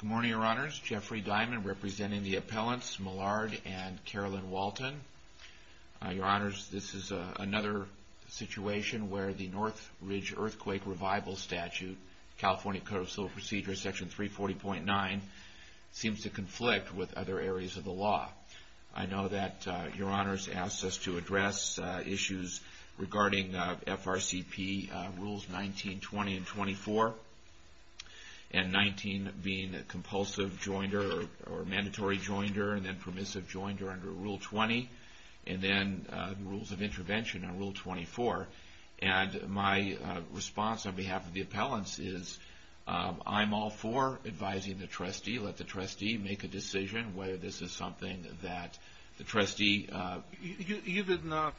Good morning, your honors. Jeffrey Diamond representing the appellants Millard and Carolyn Walton. Your honors, this is another situation where the North Ridge earthquake revival statute, California Code of Civil Procedures, section 340.9, seems to conflict with other areas of the law. I know that your honors asked us to address issues regarding FRCP rules 19, 20, and 24. And 19 being a compulsive joinder or mandatory joinder and then permissive joinder under Rule 20. And then the rules of intervention under Rule 24. And my response on behalf of the appellants is, I'm all for advising the trustee. Let the trustee make a decision whether this is something that the trustee... You did not,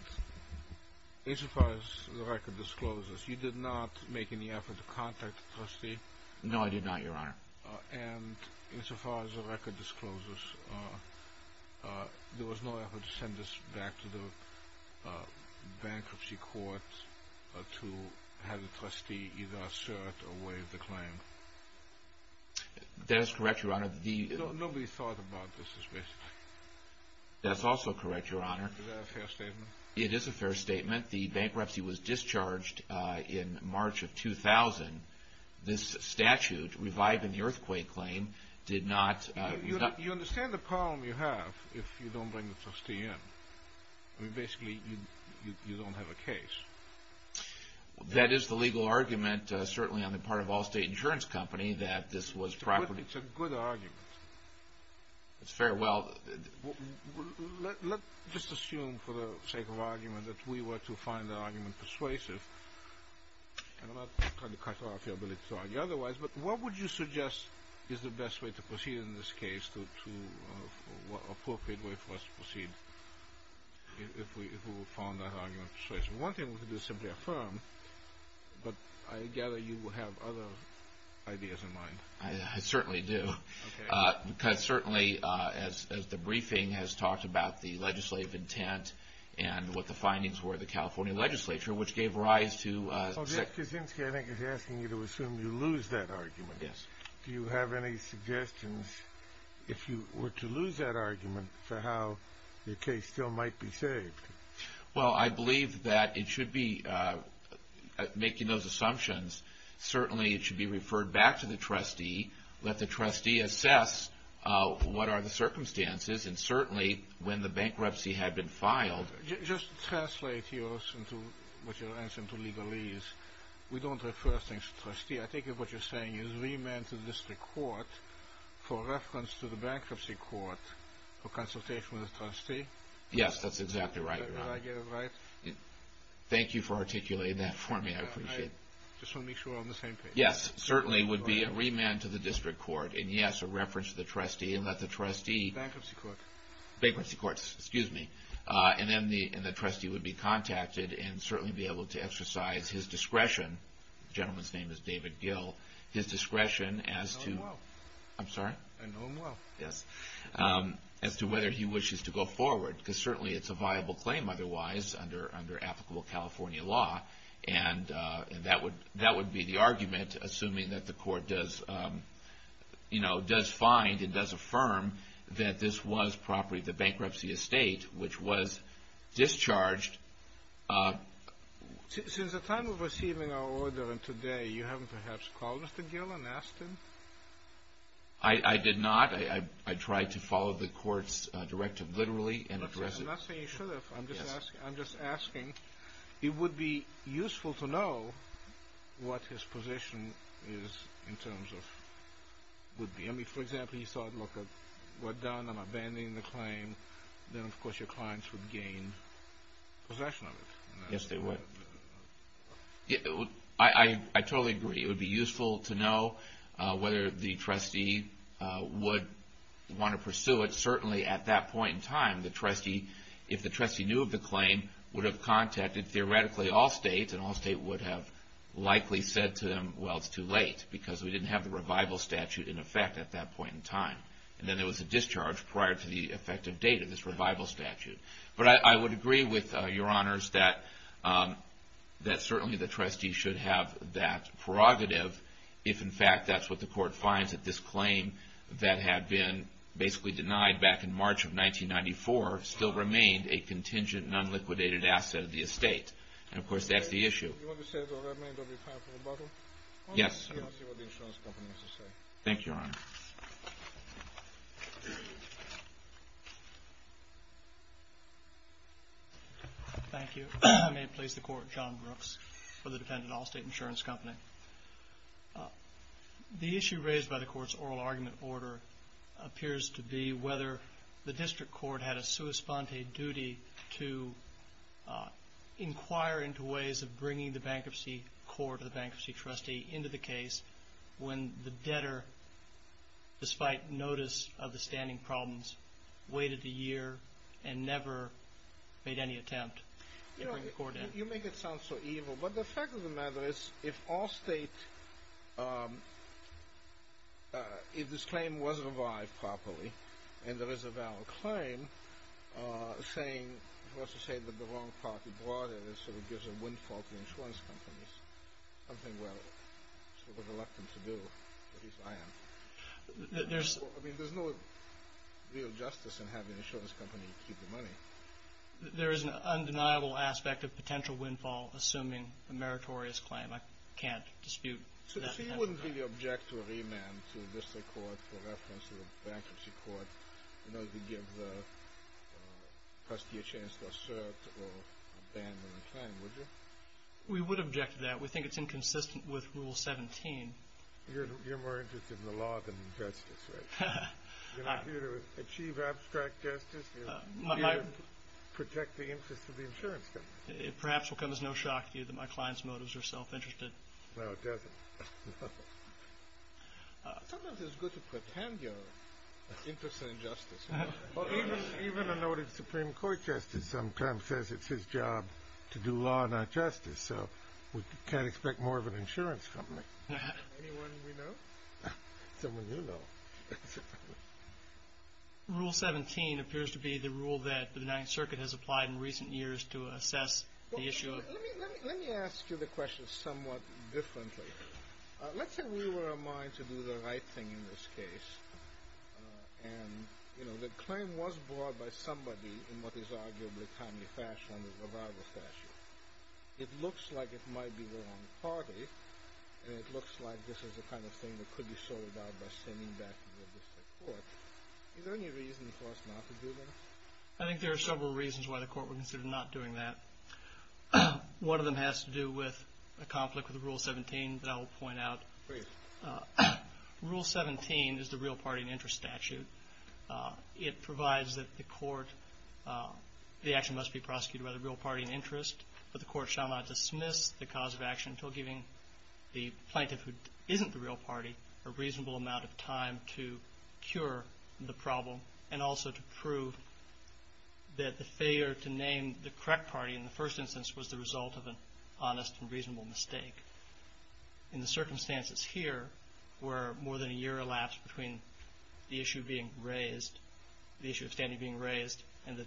insofar as the record discloses, you did not make any effort to contact the trustee? No, I did not, your honor. And insofar as the record discloses, there was no effort to send this back to the bankruptcy court to have the trustee either assert or waive the claim? That is correct, your honor. Nobody thought about this? That's also correct, your honor. Is that a fair statement? It is a fair statement. The bankruptcy was discharged in March of 2000. This statute, Reviving the Earthquake Claim, did not... You understand the problem you have if you don't bring the trustee in? I mean, basically, you don't have a case. That is the legal argument, certainly on the part of Allstate Insurance Company, that this was property... It's a good argument. It's fair. Well, let's just assume for the sake of argument that we were to find the argument persuasive. And I'm not trying to cut off your ability to argue otherwise, but what would you suggest is the best way to proceed in this case, an appropriate way for us to proceed if we found that argument persuasive? One thing we could do is simply affirm, but I gather you have other ideas in mind. I certainly do. Because certainly, as the briefing has talked about the legislative intent and what the findings were, the California legislature, which gave rise to... Judge Kaczynski, I think, is asking you to assume you lose that argument. Do you have any suggestions, if you were to lose that argument, for how the case still might be saved? Well, I believe that it should be, making those assumptions, certainly it should be referred back to the trustee, let the trustee assess what are the circumstances, and certainly, when the bankruptcy had been filed... Just translate what you're answering to legalese. We don't refer things to the trustee. I take it what you're saying is remand to the district court for reference to the bankruptcy court for consultation with the trustee? Yes, that's exactly right, Your Honor. Did I get it right? Thank you for articulating that for me. I appreciate it. Yes, certainly would be a remand to the district court, and yes, a reference to the trustee, and let the trustee... Bankruptcy court. Bankruptcy court, excuse me. And then the trustee would be contacted and certainly be able to exercise his discretion, the gentleman's name is David Gill, his discretion as to... I know him well. I'm sorry? I know him well. As to whether he wishes to go forward, because certainly it's a viable claim otherwise under applicable California law, and that would be the argument, assuming that the court does find and does affirm that this was property, the bankruptcy estate, which was discharged... Since the time of receiving our order and today, you haven't perhaps called Mr. Gill and asked him? I did not. I tried to follow the court's directive literally and address it. I'm not saying you should have. Yes. I'm just asking, it would be useful to know what his position is in terms of, would be. I mean, for example, you thought, look, I'm done, I'm abandoning the claim, then of course your clients would gain possession of it. Yes, they would. I totally agree. It would be useful to know whether the trustee would want to pursue it. Certainly at that point in time, the trustee, if the trustee knew of the claim, would have contacted theoretically all states and all states would have likely said to them, well, it's too late because we didn't have the revival statute in effect at that point in time. And then there was a discharge prior to the effective date of this revival statute. But I would agree with your honors that certainly the trustee should have that prerogative if in fact that's what the court finds that this claim that had been basically denied back in March of 1994 still remained a contingent non-liquidated asset of the estate. And of course, that's the issue. Do you want to say that the red money will be fine for rebuttal? Yes. Let's see what the insurance company has to say. Thank you, Your Honor. Thank you. I may place the court at John Brooks for the defendant Allstate Insurance Company. The issue raised by the court's oral argument order appears to be whether the district court had a sua sponte duty to inquire into ways of bringing the bankruptcy court or the bankruptcy trustee into the case when the debtor, despite notice of the standing problems, waited a year and never made any attempt to bring the court in. You make it sound so evil. But the fact of the matter is if Allstate, if this claim was revived properly and there is a valid claim saying, let's just say that the wrong party brought it in so it gives a windfall to insurance companies, something well sort of reluctant to do, at least I am. There's no real justice in having an insurance company keep the money. There is an undeniable aspect of potential windfall assuming a meritorious claim. I can't dispute that. So you wouldn't really object to a remand to the district court for reference to the bankruptcy court in order to give the trustee a chance to assert or abandon a claim, would you? We would object to that. We think it's inconsistent with Rule 17. You're more interested in the law than in justice, right? You're not here to achieve abstract justice. You're here to protect the interests of the insurance company. It perhaps will come as no shock to you that my client's motives are self-interested. No, it doesn't. Sometimes it's good to pretend you're interested in justice. Even a noted Supreme Court justice sometimes says it's his job to do law, not justice. So we can't expect more of an insurance company. Anyone we know? Someone you know. Rule 17 appears to be the rule that the Ninth Circuit has applied in recent years to assess the issue of... Let me ask you the question somewhat differently. Let's say we were in a mind to do the right thing in this case. And the claim was brought by somebody in what is arguably a timely fashion, a verbal fashion. It looks like it might be the wrong party. And it looks like this is the kind of thing that could be sold out by sending back to the District Court. Is there any reason for us not to do that? I think there are several reasons why the Court would consider not doing that. One of them has to do with a conflict with Rule 17 that I will point out. Please. Rule 17 is the real party and interest statute. It provides that the court, the action must be prosecuted by the real party and interest, but the court shall not dismiss the cause of action until giving the plaintiff who isn't the real party a reasonable amount of time to cure the problem and also to prove that the failure to name the correct party in the first instance was the result of an honest and reasonable mistake. In the circumstances here, where more than a year elapsed between the issue being raised, the issue of standing being raised, and the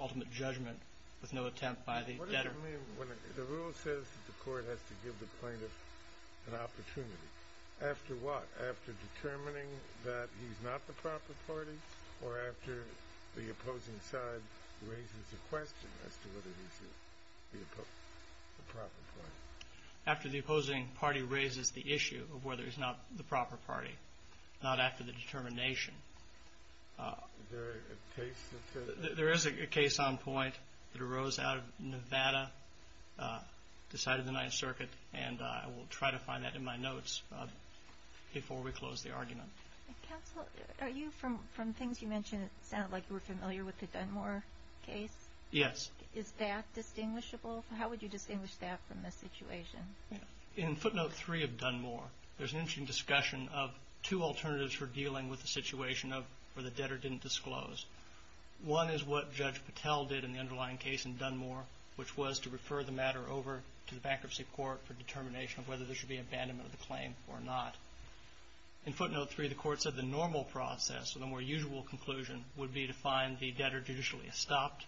ultimate judgment with no attempt by the debtor. What does it mean when the Rule says that the court has to give the plaintiff an opportunity? After what? After determining that he's not the proper party? Or after the opposing side raises a question as to whether he's the proper party? After the opposing party raises the issue of whether he's not the proper party, not after the determination. There is a case on point that arose out of Nevada, the side of the Ninth Circuit, and I will try to find that in my notes before we close the argument. Counsel, are you, from things you mentioned, it sounded like you were familiar with the Dunmore case? Yes. Is that distinguishable? How would you distinguish that from this situation? In footnote 3 of Dunmore, there's an interesting discussion of two alternatives for dealing with the situation where the debtor didn't disclose. One is what Judge Patel did in the underlying case in Dunmore, which was to refer the matter over to the bankruptcy court for determination of whether there should be abandonment of the claim or not. In footnote 3, the court said the normal process, the more usual conclusion, would be to find the debtor judicially stopped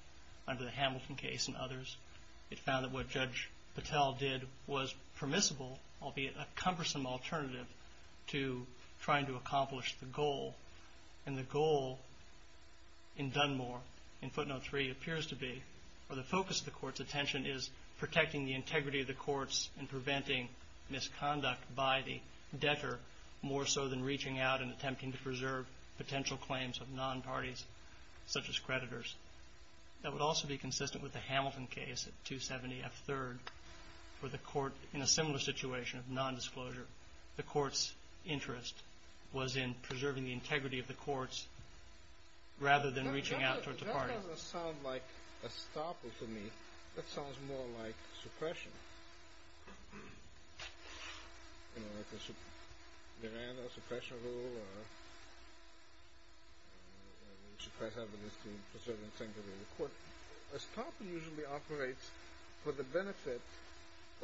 under the Hamilton case and others. It found that what Judge Patel did was permissible, albeit a cumbersome alternative to trying to accomplish the goal. And the goal in Dunmore, in footnote 3, appears to be, or the focus of the court's attention is protecting the integrity of the courts and preventing misconduct by the debtor, more so than reaching out and attempting to preserve potential claims of non-parties such as creditors. That would also be consistent with the Hamilton case at 270F3rd, where the court, in a similar situation of non-disclosure, the court's interest was in preserving the integrity of the courts rather than reaching out towards the parties. That doesn't sound like estoppel to me. That sounds more like suppression. You know, like the Miranda suppression rule, which requires evidence to preserve the integrity of the court. Estoppel usually operates for the benefit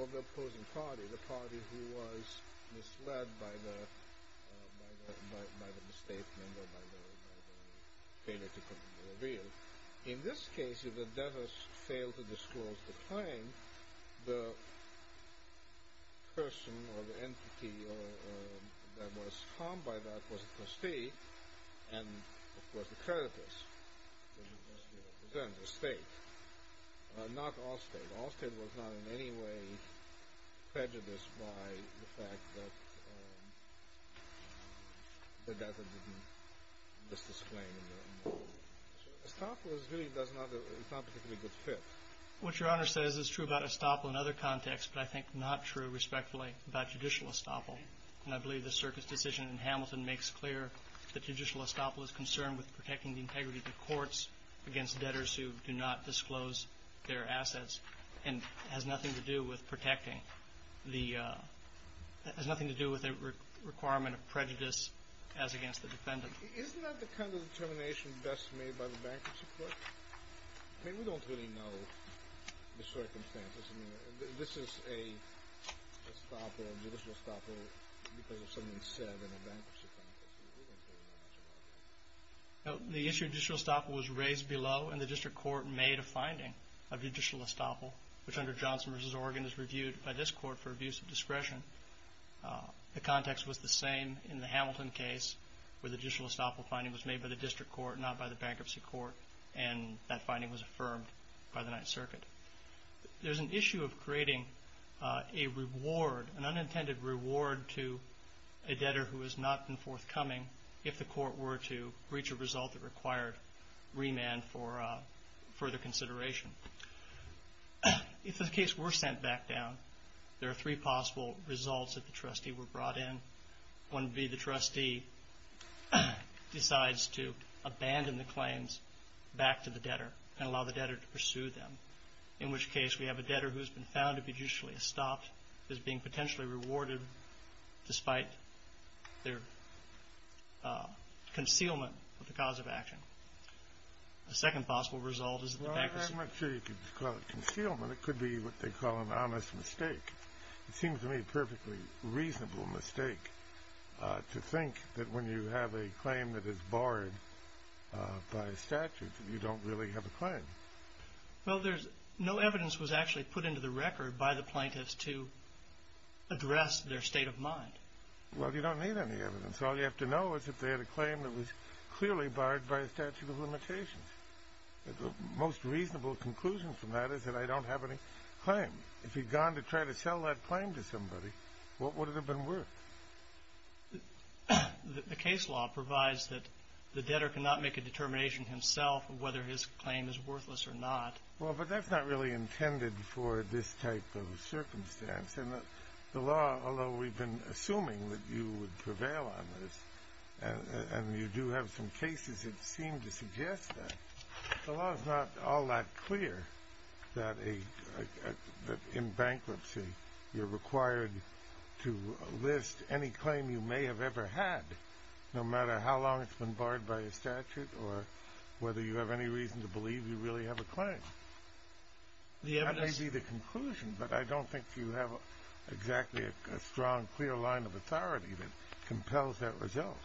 of the opposing party, the party who was misled by the misstatement or by the failure to come to a real. In this case, if the debtor failed to disclose the claim, the person or the entity that was harmed by that was the trustee and, of course, the creditors. Then the state. Not all state. All state was not in any way prejudiced by the fact that the debtor didn't misdisclaim. Estoppel is really not a particularly good fit. What Your Honor says is true about estoppel in other contexts, but I think not true, respectfully, about judicial estoppel. And I believe the circuit's decision in Hamilton makes clear that judicial estoppel is concerned with protecting the integrity of the courts against debtors who do not disclose their assets and has nothing to do with a requirement of prejudice as against the defendant. Isn't that the kind of determination best made by the bankruptcy court? I mean, we don't really know the circumstances. This is an estoppel, judicial estoppel, because of something said in a bankruptcy case. The issue of judicial estoppel was raised below, and the district court made a finding of judicial estoppel, which under Johnson v. Oregon is reviewed by this court for abuse of discretion. The context was the same in the Hamilton case, where the judicial estoppel finding was made by the district court, not by the bankruptcy court, and that finding was affirmed by the Ninth Circuit. There's an issue of creating a reward, an unintended reward, to a debtor who has not been forthcoming if the court were to reach a result that required remand for further consideration. If the case were sent back down, there are three possible results if the trustee were brought in. One would be the trustee decides to abandon the claims back to the debtor and allow the debtor to pursue them, in which case we have a debtor who has been found to be judicially estopped, who is being potentially rewarded despite their concealment of the cause of action. The second possible result is that the bankruptcy court- Well, I'm not sure you could call it concealment. It could be what they call an honest mistake. It seems to me a perfectly reasonable mistake to think that when you have a claim that is barred by a statute that you don't really have a claim. Well, no evidence was actually put into the record by the plaintiffs to address their state of mind. Well, you don't need any evidence. All you have to know is that they had a claim that was clearly barred by a statute of limitations. The most reasonable conclusion from that is that I don't have any claim. If he'd gone to try to sell that claim to somebody, what would it have been worth? The case law provides that the debtor cannot make a determination himself of whether his claim is worthless or not. Well, but that's not really intended for this type of circumstance. And the law, although we've been assuming that you would prevail on this, and you do have some cases that seem to suggest that, the law is not all that clear that in bankruptcy you're required to list any claim you may have ever had, no matter how long it's been barred by a statute or whether you have any reason to believe you really have a claim. That may be the conclusion, but I don't think you have exactly a strong, clear line of authority that compels that result.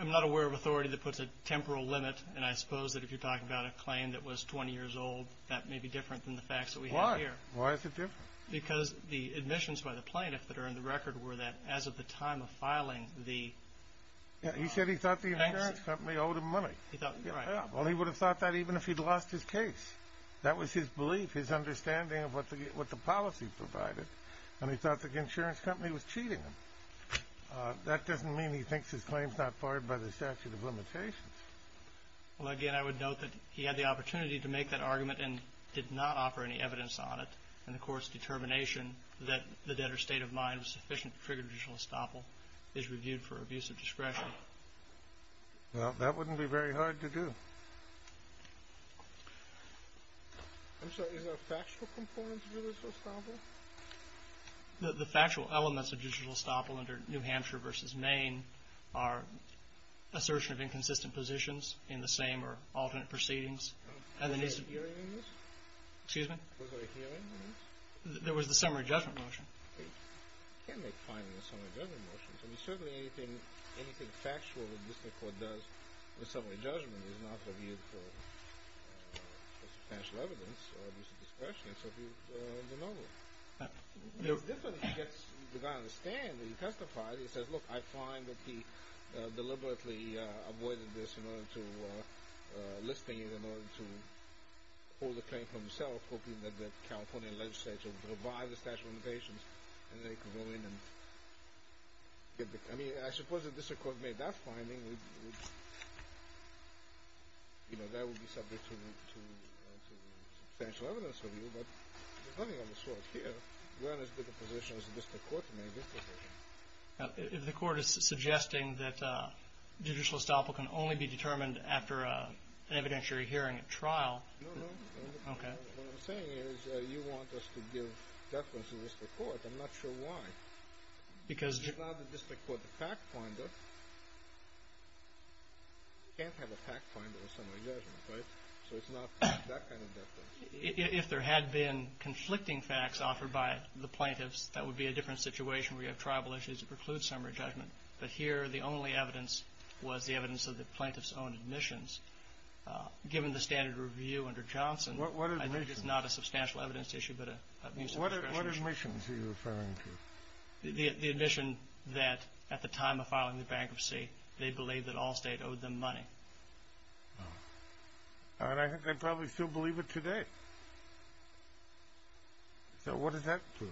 I'm not aware of authority that puts a temporal limit. And I suppose that if you're talking about a claim that was 20 years old, that may be different than the facts that we have here. Why? Why is it different? Because the admissions by the plaintiff that are in the record were that as of the time of filing the... He said he thought the insurance company owed him money. Well, he would have thought that even if he'd lost his case. That was his belief, his understanding of what the policy provided. And he thought the insurance company was cheating him. That doesn't mean he thinks his claim is not barred by the statute of limitations. Well, again, I would note that he had the opportunity to make that argument and did not offer any evidence on it. And the court's determination that the debtor's state of mind was sufficient to trigger judicial estoppel is reviewed for abuse of discretion. Well, that wouldn't be very hard to do. I'm sorry, is there a factual component to judicial estoppel? The factual elements of judicial estoppel under New Hampshire v. Maine are assertion of inconsistent positions in the same or alternate proceedings. Was there a hearing in this? Excuse me? Was there a hearing in this? There was the summary judgment motion. You can't make findings in summary judgment motions. I mean, certainly anything factual that this court does in summary judgment is not reviewed for substantial evidence or abuse of discretion. And so he's a no-no. You know, this one gets the guy on the stand. He testifies. He says, look, I find that he deliberately avoided this in order to, listing it in order to hold a claim for himself, hoping that the California legislature would revise the statute of limitations and then he could go in and get the... I mean, I suppose if this court made that finding, you know, that would be subject to substantial evidence review. But depending on the source here, we're in as good a position as the district court to make this decision. Now, if the court is suggesting that judicial estoppel can only be determined after an evidentiary hearing at trial... No, no. Okay. What I'm saying is you want us to give deference to the district court. I'm not sure why. Because... It's not the district court fact finder. You can't have a fact finder in summary judgment, right? So it's not that kind of deference. Well, if there had been conflicting facts offered by the plaintiffs, that would be a different situation where you have tribal issues that preclude summary judgment. But here the only evidence was the evidence of the plaintiffs' own admissions. Given the standard review under Johnson, I think it's not a substantial evidence issue but a... What admissions are you referring to? The admission that at the time of filing the bankruptcy, they believed that Allstate owed them money. Oh. And I think they probably still believe it today. So what does that prove?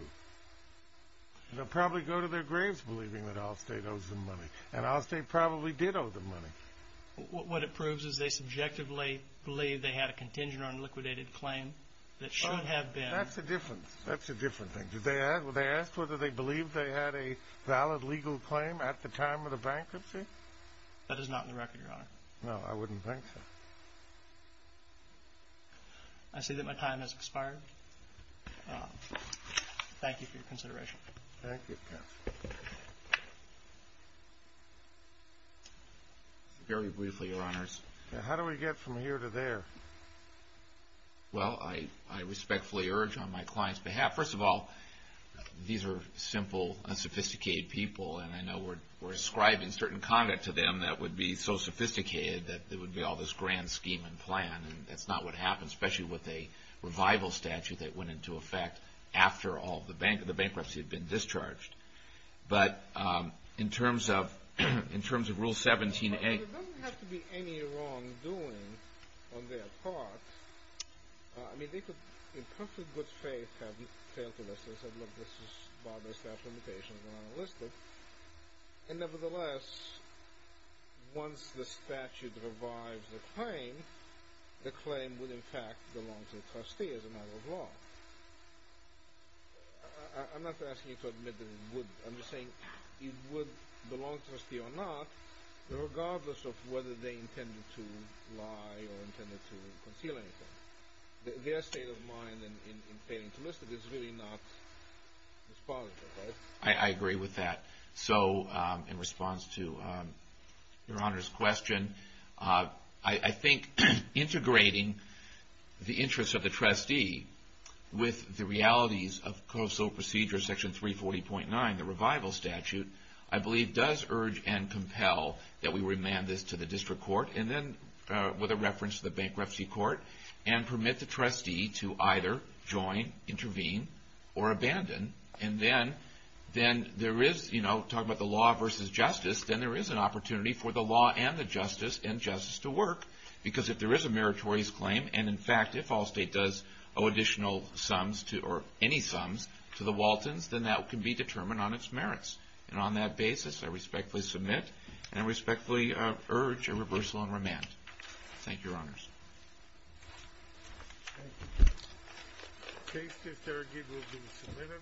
They'll probably go to their graves believing that Allstate owes them money. And Allstate probably did owe them money. What it proves is they subjectively believe they had a contingent or unliquidated claim that should have been... That's a difference. That's a different thing. Did they ask whether they believed they had a valid legal claim at the time of the bankruptcy? That is not in the record, Your Honor. No, I wouldn't think so. I see that my time has expired. Thank you for your consideration. Thank you, counsel. Very briefly, Your Honors. How do we get from here to there? Well, I respectfully urge on my client's behalf, first of all, these are simple, unsophisticated people, and I know we're ascribing certain conduct to them that would be so sophisticated that there would be all this grand scheme and plan, and that's not what happened, especially with a revival statute that went into effect after the bankruptcy had been discharged. But in terms of Rule 17a... There doesn't have to be any wrongdoing on their part. I mean, they could, in perfect good faith, have failed to this. They said, look, this is by their staff's limitations, and I don't list it. And nevertheless, once the statute revives the claim, the claim would, in fact, belong to the trustee as a matter of law. I'm not asking you to admit that it would. I'm just saying it would belong to the trustee or not, regardless of whether they intended to lie or intended to conceal anything. Their state of mind in failing to list it is really not as positive, right? I agree with that. So in response to Your Honor's question, I think integrating the interests of the trustee with the realities of Coastal Procedure Section 340.9, the revival statute, I believe does urge and compel that we remand this to the district court, and then with a reference to the bankruptcy court, and permit the trustee to either join, intervene, or abandon. And then there is, you know, talking about the law versus justice, then there is an opportunity for the law and the justice and justice to work. Because if there is a meritorious claim, and in fact, if Allstate does owe additional sums or any sums to the Waltons, then that can be determined on its merits. And on that basis, I respectfully submit and respectfully urge a reversal and remand. Thank you, Your Honors. Thank you. Case 340 will be submitted.